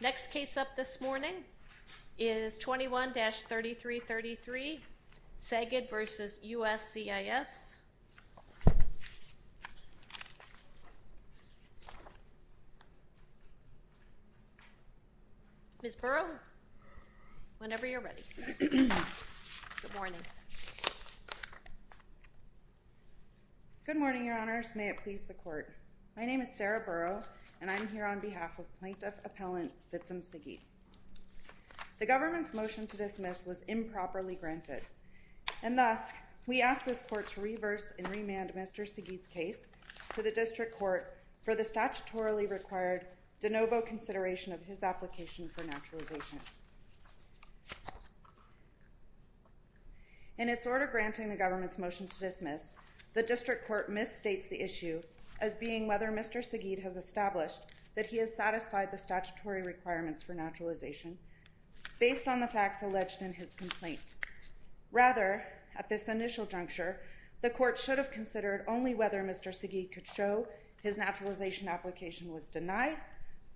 Next case up this morning is 21-3333, Segid v. USCIS. Ms. Burrow, whenever you're ready. Good morning. Good morning, Your Honors. May it please the Court. My name is Sarah Burrow, and I'm here on behalf of Plaintiff Appellant Fitsum Segid. The government's motion to dismiss was improperly granted, and thus, we ask this Court to reverse and remand Mr. Segid's case to the District Court for the statutorily required de novo consideration of his application for naturalization. In its order granting the government's motion to dismiss, the District Court misstates the issue as being whether Mr. Segid has established that he has satisfied the statutory requirements for naturalization based on the facts alleged in his complaint. Rather, at this initial juncture, the Court should have considered only whether Mr. Segid could show his naturalization application was denied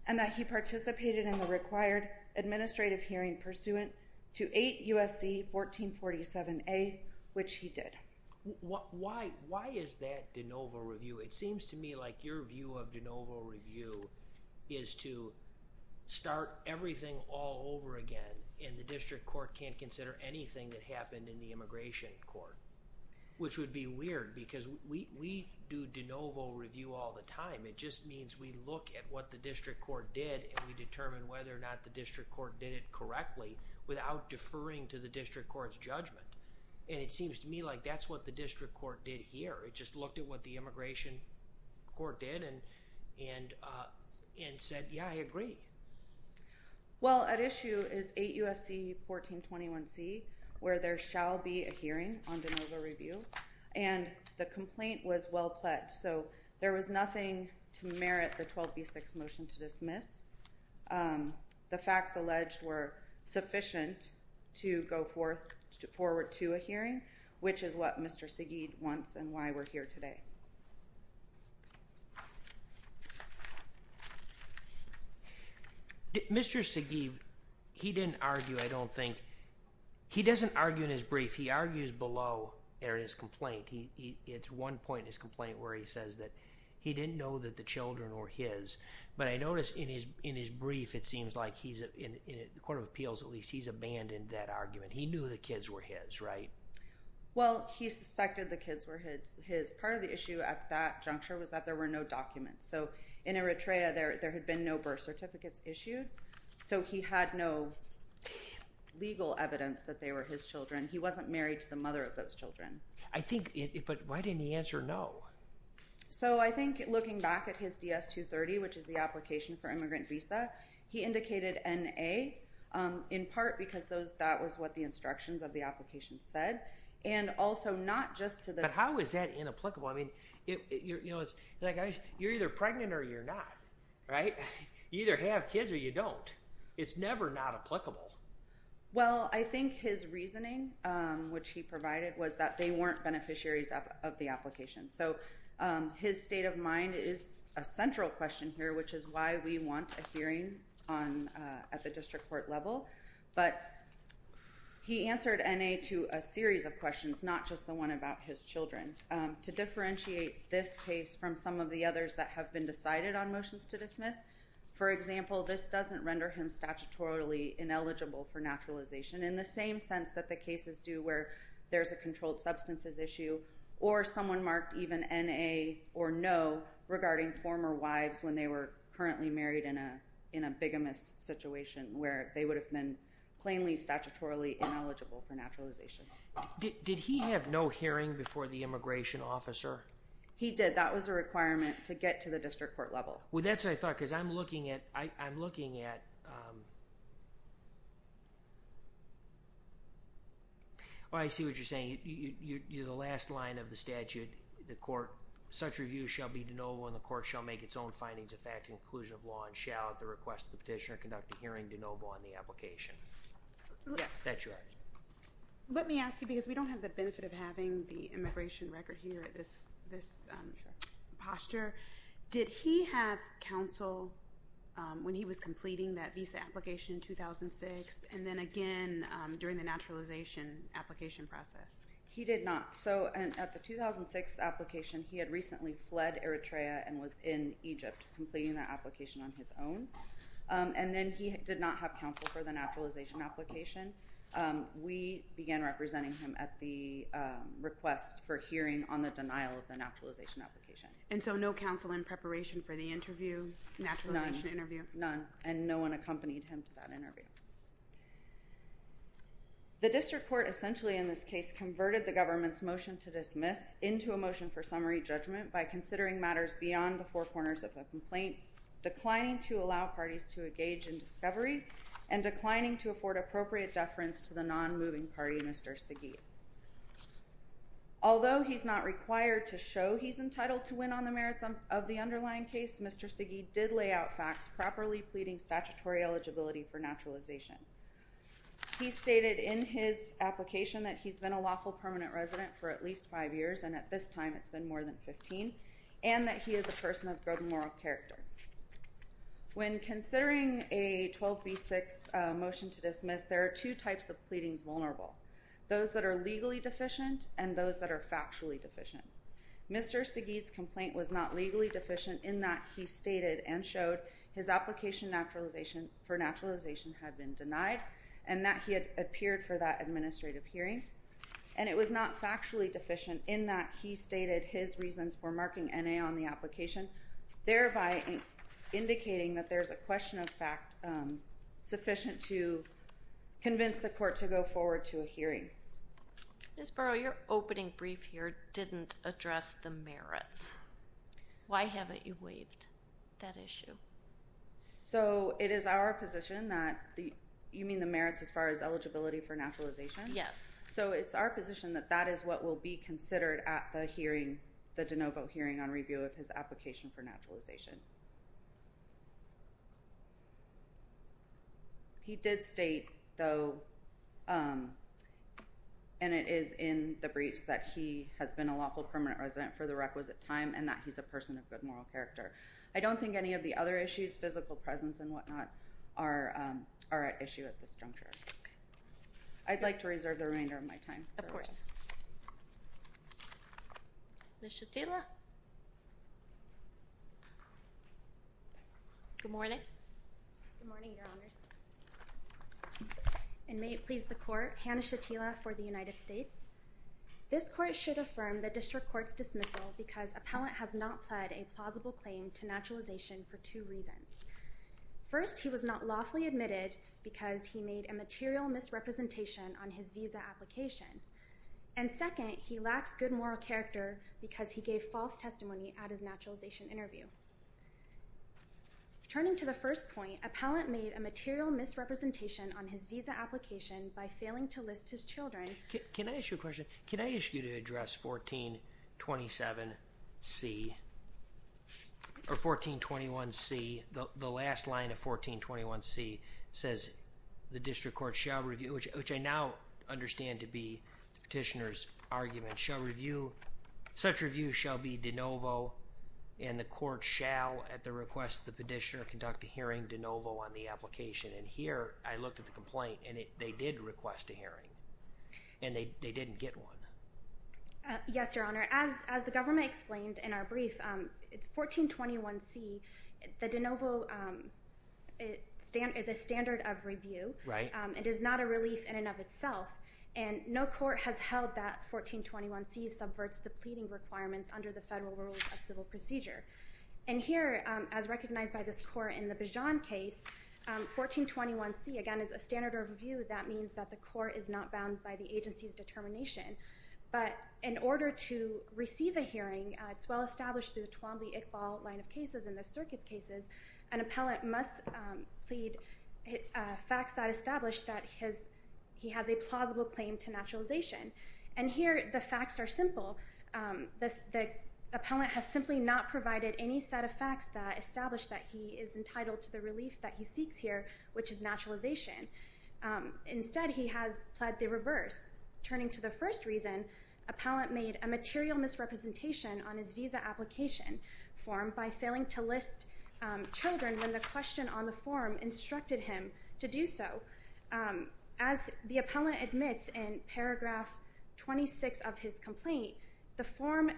and that he participated in the required administrative hearing pursuant to 8 U.S.C. 1447A, which he did. Why is that de novo review? It seems to me like your view of de novo review is to start everything all over again, and the District Court can't consider anything that happened in the Immigration Court, which would be weird because we do de novo review all the time. It just means we look at what the District Court did and we determine whether or not the District Court did it correctly without deferring to the District Court's judgment. And it seems to me like that's what the District Court did here. It just looked at what the Immigration Court did and said, yeah, I agree. Well, at issue is 8 U.S.C. 1421C, where there shall be a hearing on de novo review, and the complaint was well-pledged, so there was nothing to merit the 12B6 motion to dismiss. The facts alleged were sufficient to go forward to a hearing, which is what Mr. Segid wants and why we're here today. Mr. Segid, he didn't argue, I don't think. He doesn't argue in his brief. He argues below in his complaint. It's one point in his complaint where he says that he didn't know that the children were his, but I noticed in his brief it seems like he's, in the Court of Appeals at least, he's abandoned that argument. He knew the kids were his, right? Well, he suspected the kids were his. Part of the issue at that juncture was that there were no documents, so in Eritrea there had been no birth certificates issued, so he had no legal evidence that they were his children. He wasn't married to the mother of those children. I think, but why didn't he answer no? So I think looking back at his DS-230, which is the application for immigrant visa, he indicated N.A. in part because that was what the instructions of the application said, and also not just to the… But how is that inapplicable? I mean, you're either pregnant or you're not, right? You either have kids or you don't. It's never not applicable. Well, I think his reasoning, which he provided, was that they weren't beneficiaries of the application. So his state of mind is a central question here, which is why we want a hearing at the district court level. But he answered N.A. to a series of questions, not just the one about his children. To differentiate this case from some of the others that have been decided on motions to dismiss, for example, this doesn't render him statutorily ineligible for naturalization, in the same sense that the cases do where there's a controlled substances issue or someone marked even N.A. or no regarding former wives when they were currently married in a bigamist situation where they would have been plainly statutorily ineligible for naturalization. Did he have no hearing before the immigration officer? He did. That was a requirement to get to the district court level. Well, that's what I thought, because I'm looking at... Oh, I see what you're saying. You're the last line of the statute. The court, such review shall be de novo and the court shall make its own findings of fact and conclusion of law and shall, at the request of the petitioner, conduct a hearing de novo on the application. Yes, that's right. Let me ask you, because we don't have the benefit of having the immigration record here at this posture, did he have counsel when he was completing that visa application in 2006 and then again during the naturalization application process? He did not. So, at the 2006 application, he had recently fled Eritrea and was in Egypt completing that application on his own. And then he did not have counsel for the naturalization application. We began representing him at the request for hearing on the denial of the naturalization application. And so no counsel in preparation for the interview, naturalization interview? None. And no one accompanied him to that interview. The district court essentially, in this case, converted the government's motion to dismiss into a motion for summary judgment by considering matters beyond the four corners of the complaint, declining to allow parties to engage in discovery, and declining to afford appropriate deference to the non-moving party, Mr. Segeet. Although he's not required to show he's entitled to win on the merits of the underlying case, Mr. Segeet did lay out facts properly pleading statutory eligibility for naturalization. He stated in his application that he's been a lawful permanent resident for at least five years, and at this time it's been more than 15, and that he is a person of good moral character. When considering a 12B6 motion to dismiss, there are two types of pleadings vulnerable. Those that are legally deficient and those that are factually deficient. Mr. Segeet's complaint was not legally deficient in that he stated and showed his application for naturalization had been denied, and that he had appeared for that administrative hearing. And it was not factually deficient in that he stated his reasons for marking N.A. on the application, thereby indicating that there's a question of fact sufficient to convince the court to go forward to a hearing. Ms. Burrow, your opening brief here didn't address the merits. Why haven't you waived that issue? So it is our position that you mean the merits as far as eligibility for naturalization? So it's our position that that is what will be considered at the hearing, the de novo hearing on review of his application for naturalization. He did state, though, and it is in the briefs, that he has been a lawful permanent resident for the requisite time and that he's a person of good moral character. I don't think any of the other issues, physical presence and whatnot, are at issue at this juncture. I'd like to reserve the remainder of my time. Of course. Ms. Shatila. Good morning. Good morning, Your Honors. And may it please the court, Hannah Shatila for the United States. This court should affirm the district court's dismissal because appellant has not pled a plausible claim to naturalization for two reasons. First, he was not lawfully admitted because he made a material misrepresentation on his visa application. And second, he lacks good moral character because he gave false testimony at his naturalization interview. Turning to the first point, appellant made a material misrepresentation on his visa application by failing to list his children. Can I ask you a question? Can I ask you to address 1427C or 1421C? The last line of 1421C says, the district court shall review, which I now understand to be the petitioner's argument. Such review shall be de novo and the court shall, at the request of the petitioner, conduct a hearing de novo on the application. And here, I looked at the complaint and they did request a hearing. And they didn't get one. Yes, Your Honor. As the government explained in our brief, 1421C, the de novo is a standard of review. It is not a relief in and of itself. And no court has held that 1421C subverts the pleading requirements under the Federal Rules of Civil Procedure. And here, as recognized by this court in the Bijan case, 1421C, again, is a standard of review. That means that the court is not bound by the agency's determination. But in order to receive a hearing, it's well established through the Twombly-Iqbal line of cases and the circuits cases, an appellant must plead facts that establish that he has a plausible claim to naturalization. And here, the facts are simple. The appellant has simply not provided any set of facts that establish that he is entitled to the relief that he seeks here, which is naturalization. Instead, he has pled the reverse. Turning to the first reason, appellant made a material misrepresentation on his visa application form by failing to list children when the question on the form instructed him to do so. As the appellant admits in paragraph 26 of his complaint, the form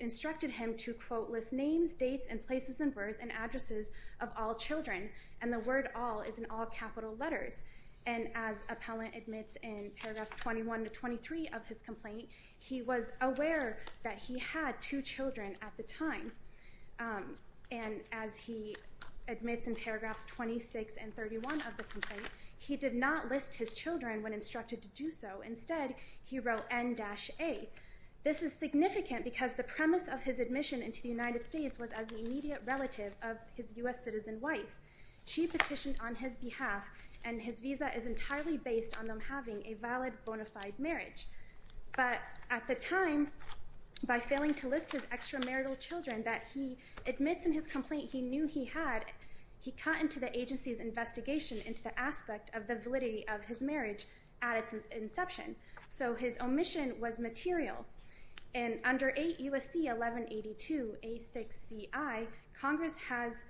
instructed him to, quote, list names, dates, and places of birth and addresses of all children. And the word all is in all capital letters. And as appellant admits in paragraphs 21 to 23 of his complaint, he was aware that he had two children at the time. And as he admits in paragraphs 26 and 31 of the complaint, he did not list his children when instructed to do so. Instead, he wrote N-A. This is significant because the premise of his admission into the United States was as the immediate relative of his U.S. citizen wife. She petitioned on his behalf, and his visa is entirely based on them having a valid, bona fide marriage. But at the time, by failing to list his extramarital children that he admits in his complaint he knew he had, he cut into the agency's investigation into the aspect of the validity of his marriage at its inception. So his omission was material. And under 8 U.S.C. 1182 A6CI, Congress has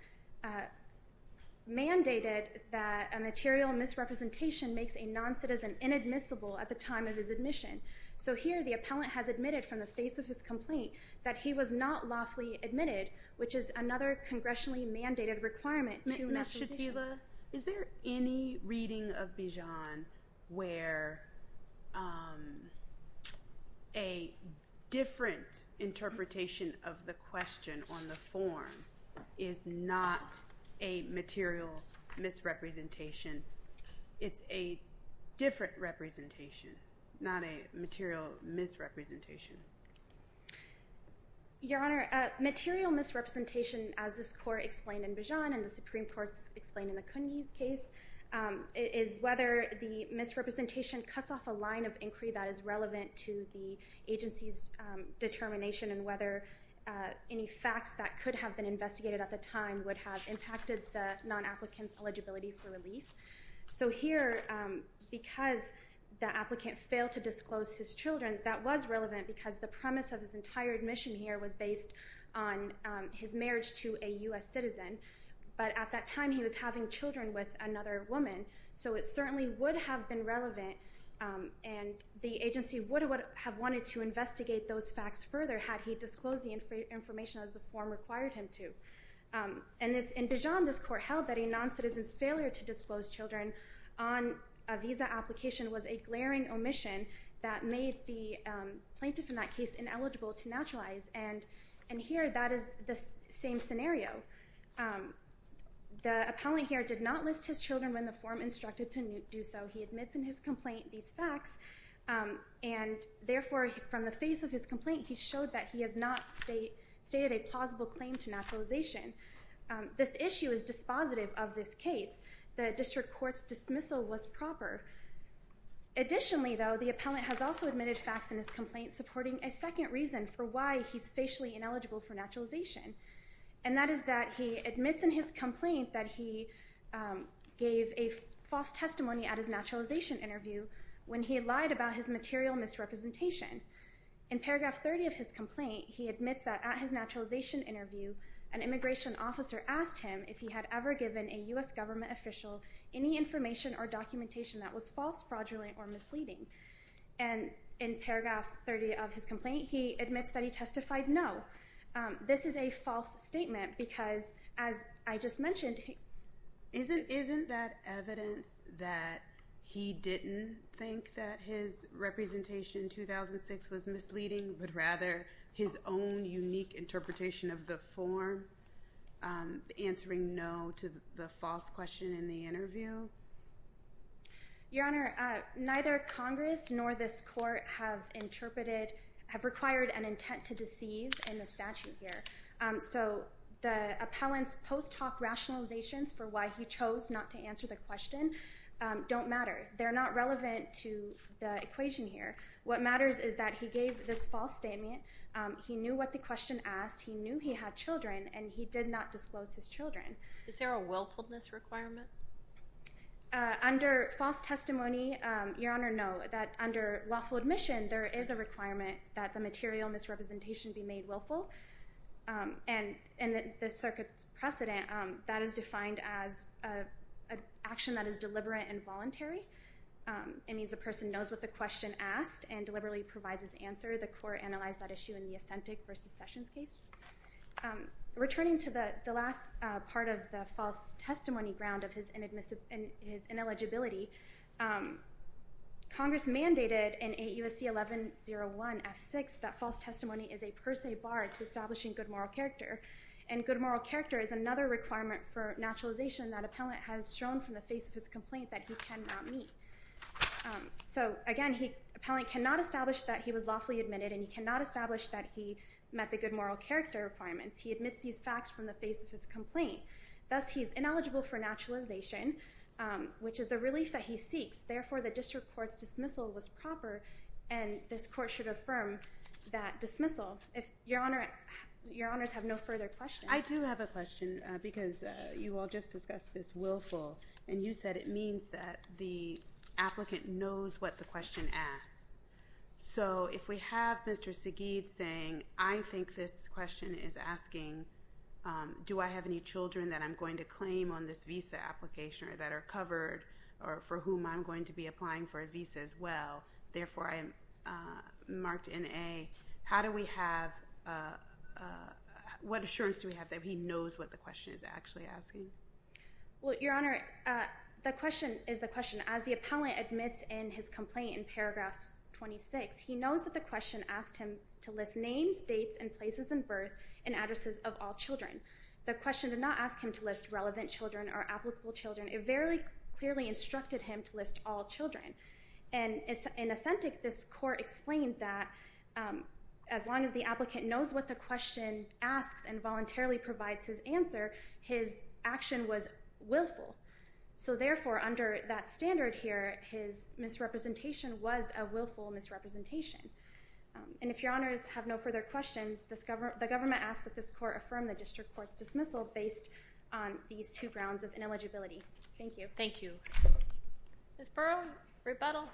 mandated that a material misrepresentation makes a noncitizen inadmissible at the time of his admission. So here, the appellant has admitted from the face of his complaint that he was not lawfully admitted, which is another congressionally mandated requirement. Ms. Shatila, is there any reading of Bijan where a different interpretation of the question on the form is not a material misrepresentation? It's a different representation, not a material misrepresentation. Your Honor, a material misrepresentation, as this Court explained in Bijan, and the Supreme Court explained in the Cooney's case, is whether the misrepresentation cuts off a line of inquiry that is relevant to the agency's determination and whether any facts that could have been investigated at the time would have impacted the non-applicant's eligibility for relief. So here, because the applicant failed to disclose his children, that was relevant because the premise of his entire admission here was based on his marriage to a U.S. citizen. But at that time, he was having children with another woman, so it certainly would have been relevant, and the agency would have wanted to investigate those facts further had he disclosed the information as the form required him to. In Bijan, this Court held that a non-citizen's failure to disclose children on a visa application was a glaring omission that made the plaintiff in that case ineligible to naturalize, and here, that is the same scenario. The appellant here did not list his children when the form instructed to do so. He admits in his complaint these facts, and therefore, from the face of his complaint, he showed that he has not stated a plausible claim to naturalization. This issue is dispositive of this case. The district court's dismissal was proper. Additionally, though, the appellant has also admitted facts in his complaint supporting a second reason for why he's facially ineligible for naturalization, and that is that he admits in his complaint that he gave a false testimony at his naturalization interview when he lied about his material misrepresentation. In paragraph 30 of his complaint, he admits that at his naturalization interview, an immigration officer asked him if he had ever given a U.S. government official any information or documentation that was false, fraudulent, or misleading. And in paragraph 30 of his complaint, he admits that he testified no. This is a false statement because, as I just mentioned, he... Isn't that evidence that he didn't think that his representation in 2006 was misleading, but rather his own unique interpretation of the form, answering no to the false question in the interview? Your Honor, neither Congress nor this court have interpreted, have required an intent to deceive in the statute here. So the appellant's post hoc rationalizations for why he chose not to answer the question don't matter. They're not relevant to the equation here. What matters is that he gave this false statement, he knew what the question asked, he knew he had children, and he did not disclose his children. Is there a willfulness requirement? Under false testimony, Your Honor, no. That under lawful admission, there is a requirement that the material misrepresentation be made willful. And in the circuit's precedent, that is defined as an action that is deliberate and voluntary. It means a person knows what the question asked and deliberately provides his answer. The court analyzed that issue in the Ascentic v. Sessions case. Returning to the last part of the false testimony ground of his ineligibility, Congress mandated in AUSC 1101 F6 that false testimony is a per se bar to establishing good moral character. And good moral character is another requirement for naturalization that appellant has shown from the face of his complaint that he cannot meet. So, again, the appellant cannot establish that he was lawfully admitted and he cannot establish that he met the good moral character requirements. He admits these facts from the face of his complaint. Thus, he is ineligible for naturalization, which is the relief that he seeks. Therefore, the district court's dismissal was proper, and this court should affirm that dismissal. Your Honors have no further questions. I do have a question because you all just discussed this willful, and you said it means that the applicant knows what the question asks. So if we have Mr. Sagid saying, I think this question is asking, do I have any children that I'm going to claim on this visa application or that are covered or for whom I'm going to be applying for a visa as well? Therefore, I am marked in A. How do we have, what assurance do we have that he knows what the question is actually asking? Well, Your Honor, the question is the question, as the appellant admits in his complaint in paragraphs 26, he knows that the question asked him to list names, dates, and places of birth, and addresses of all children. The question did not ask him to list relevant children or applicable children. It very clearly instructed him to list all children. And in authentic, this court explained that as long as the applicant knows what the question asks and voluntarily provides his answer, his action was willful. So therefore, under that standard here, his misrepresentation was a willful misrepresentation. And if Your Honors have no further questions, the government asks that this court affirm the district court's dismissal based on these two grounds of ineligibility. Thank you. Thank you. Ms. Burrow, rebuttal.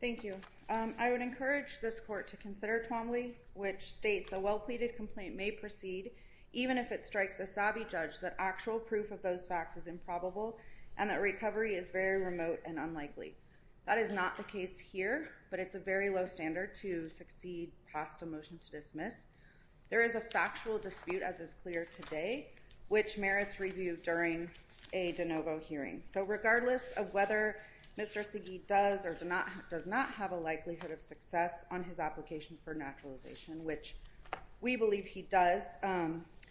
Thank you. I would encourage this court to consider Twombly, which states a well-pleaded complaint may proceed even if it strikes a savvy judge that actual proof of those facts is improbable and that recovery is very remote and unlikely. That is not the case here, but it's a very low standard to succeed past a motion to dismiss. There is a factual dispute, as is clear today, which merits review during a de novo hearing. So regardless of whether Mr. Segee does or does not have a likelihood of success on his application for naturalization, which we believe he does,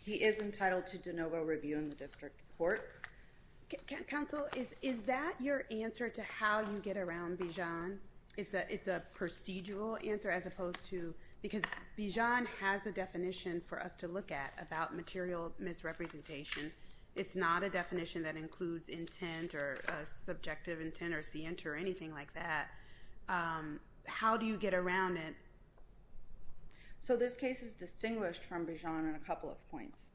he is entitled to de novo review in the district court. Counsel, is that your answer to how you get around Bijan? It's a procedural answer as opposed to because Bijan has a definition for us to look at about material misrepresentation. It's not a definition that includes intent or subjective intent or siente or anything like that. How do you get around it? So this case is distinguished from Bijan in a couple of points.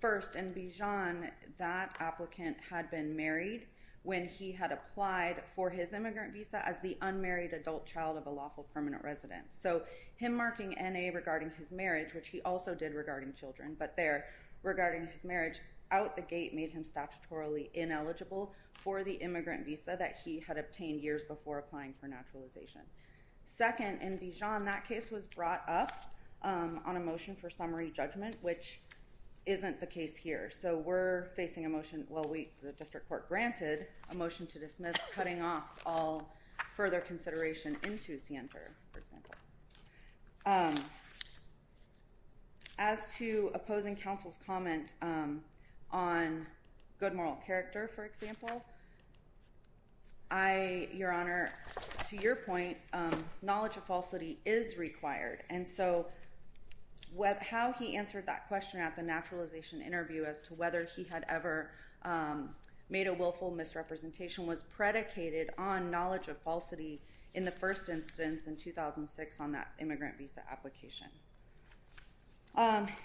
First, in Bijan, that applicant had been married when he had applied for his immigrant visa as the unmarried adult child of a lawful permanent resident. So him marking N.A. regarding his marriage, which he also did regarding children, but there regarding his marriage, out the gate made him statutorily ineligible for the immigrant visa that he had obtained years before applying for naturalization. Second, in Bijan, that case was brought up on a motion for summary judgment, which isn't the case here. So we're facing a motion, well, the district court granted a motion to dismiss, cutting off all further consideration into siente, for example. As to opposing counsel's comment on good moral character, for example, Your Honor, to your point, knowledge of falsity is required. And so how he answered that question at the naturalization interview as to whether he had ever made a willful misrepresentation was predicated on knowledge of falsity in the first instance in 2006 on that immigrant visa application.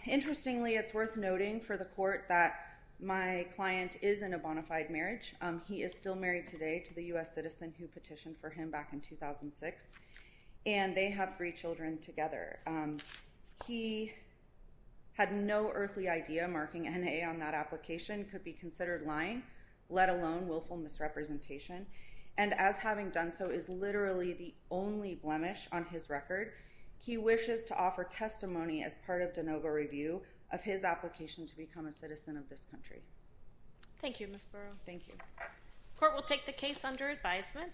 Interestingly, it's worth noting for the court that my client is in a bona fide marriage. He is still married today to the U.S. citizen who petitioned for him back in 2006, and they have three children together. He had no earthly idea marking N.A. on that application could be considered lying, let alone willful misrepresentation, and as having done so is literally the only blemish on his record, he wishes to offer testimony as part of de novo review of his application to become a citizen of this country. Thank you, Ms. Burrow. Thank you. Court will take the case under advisement.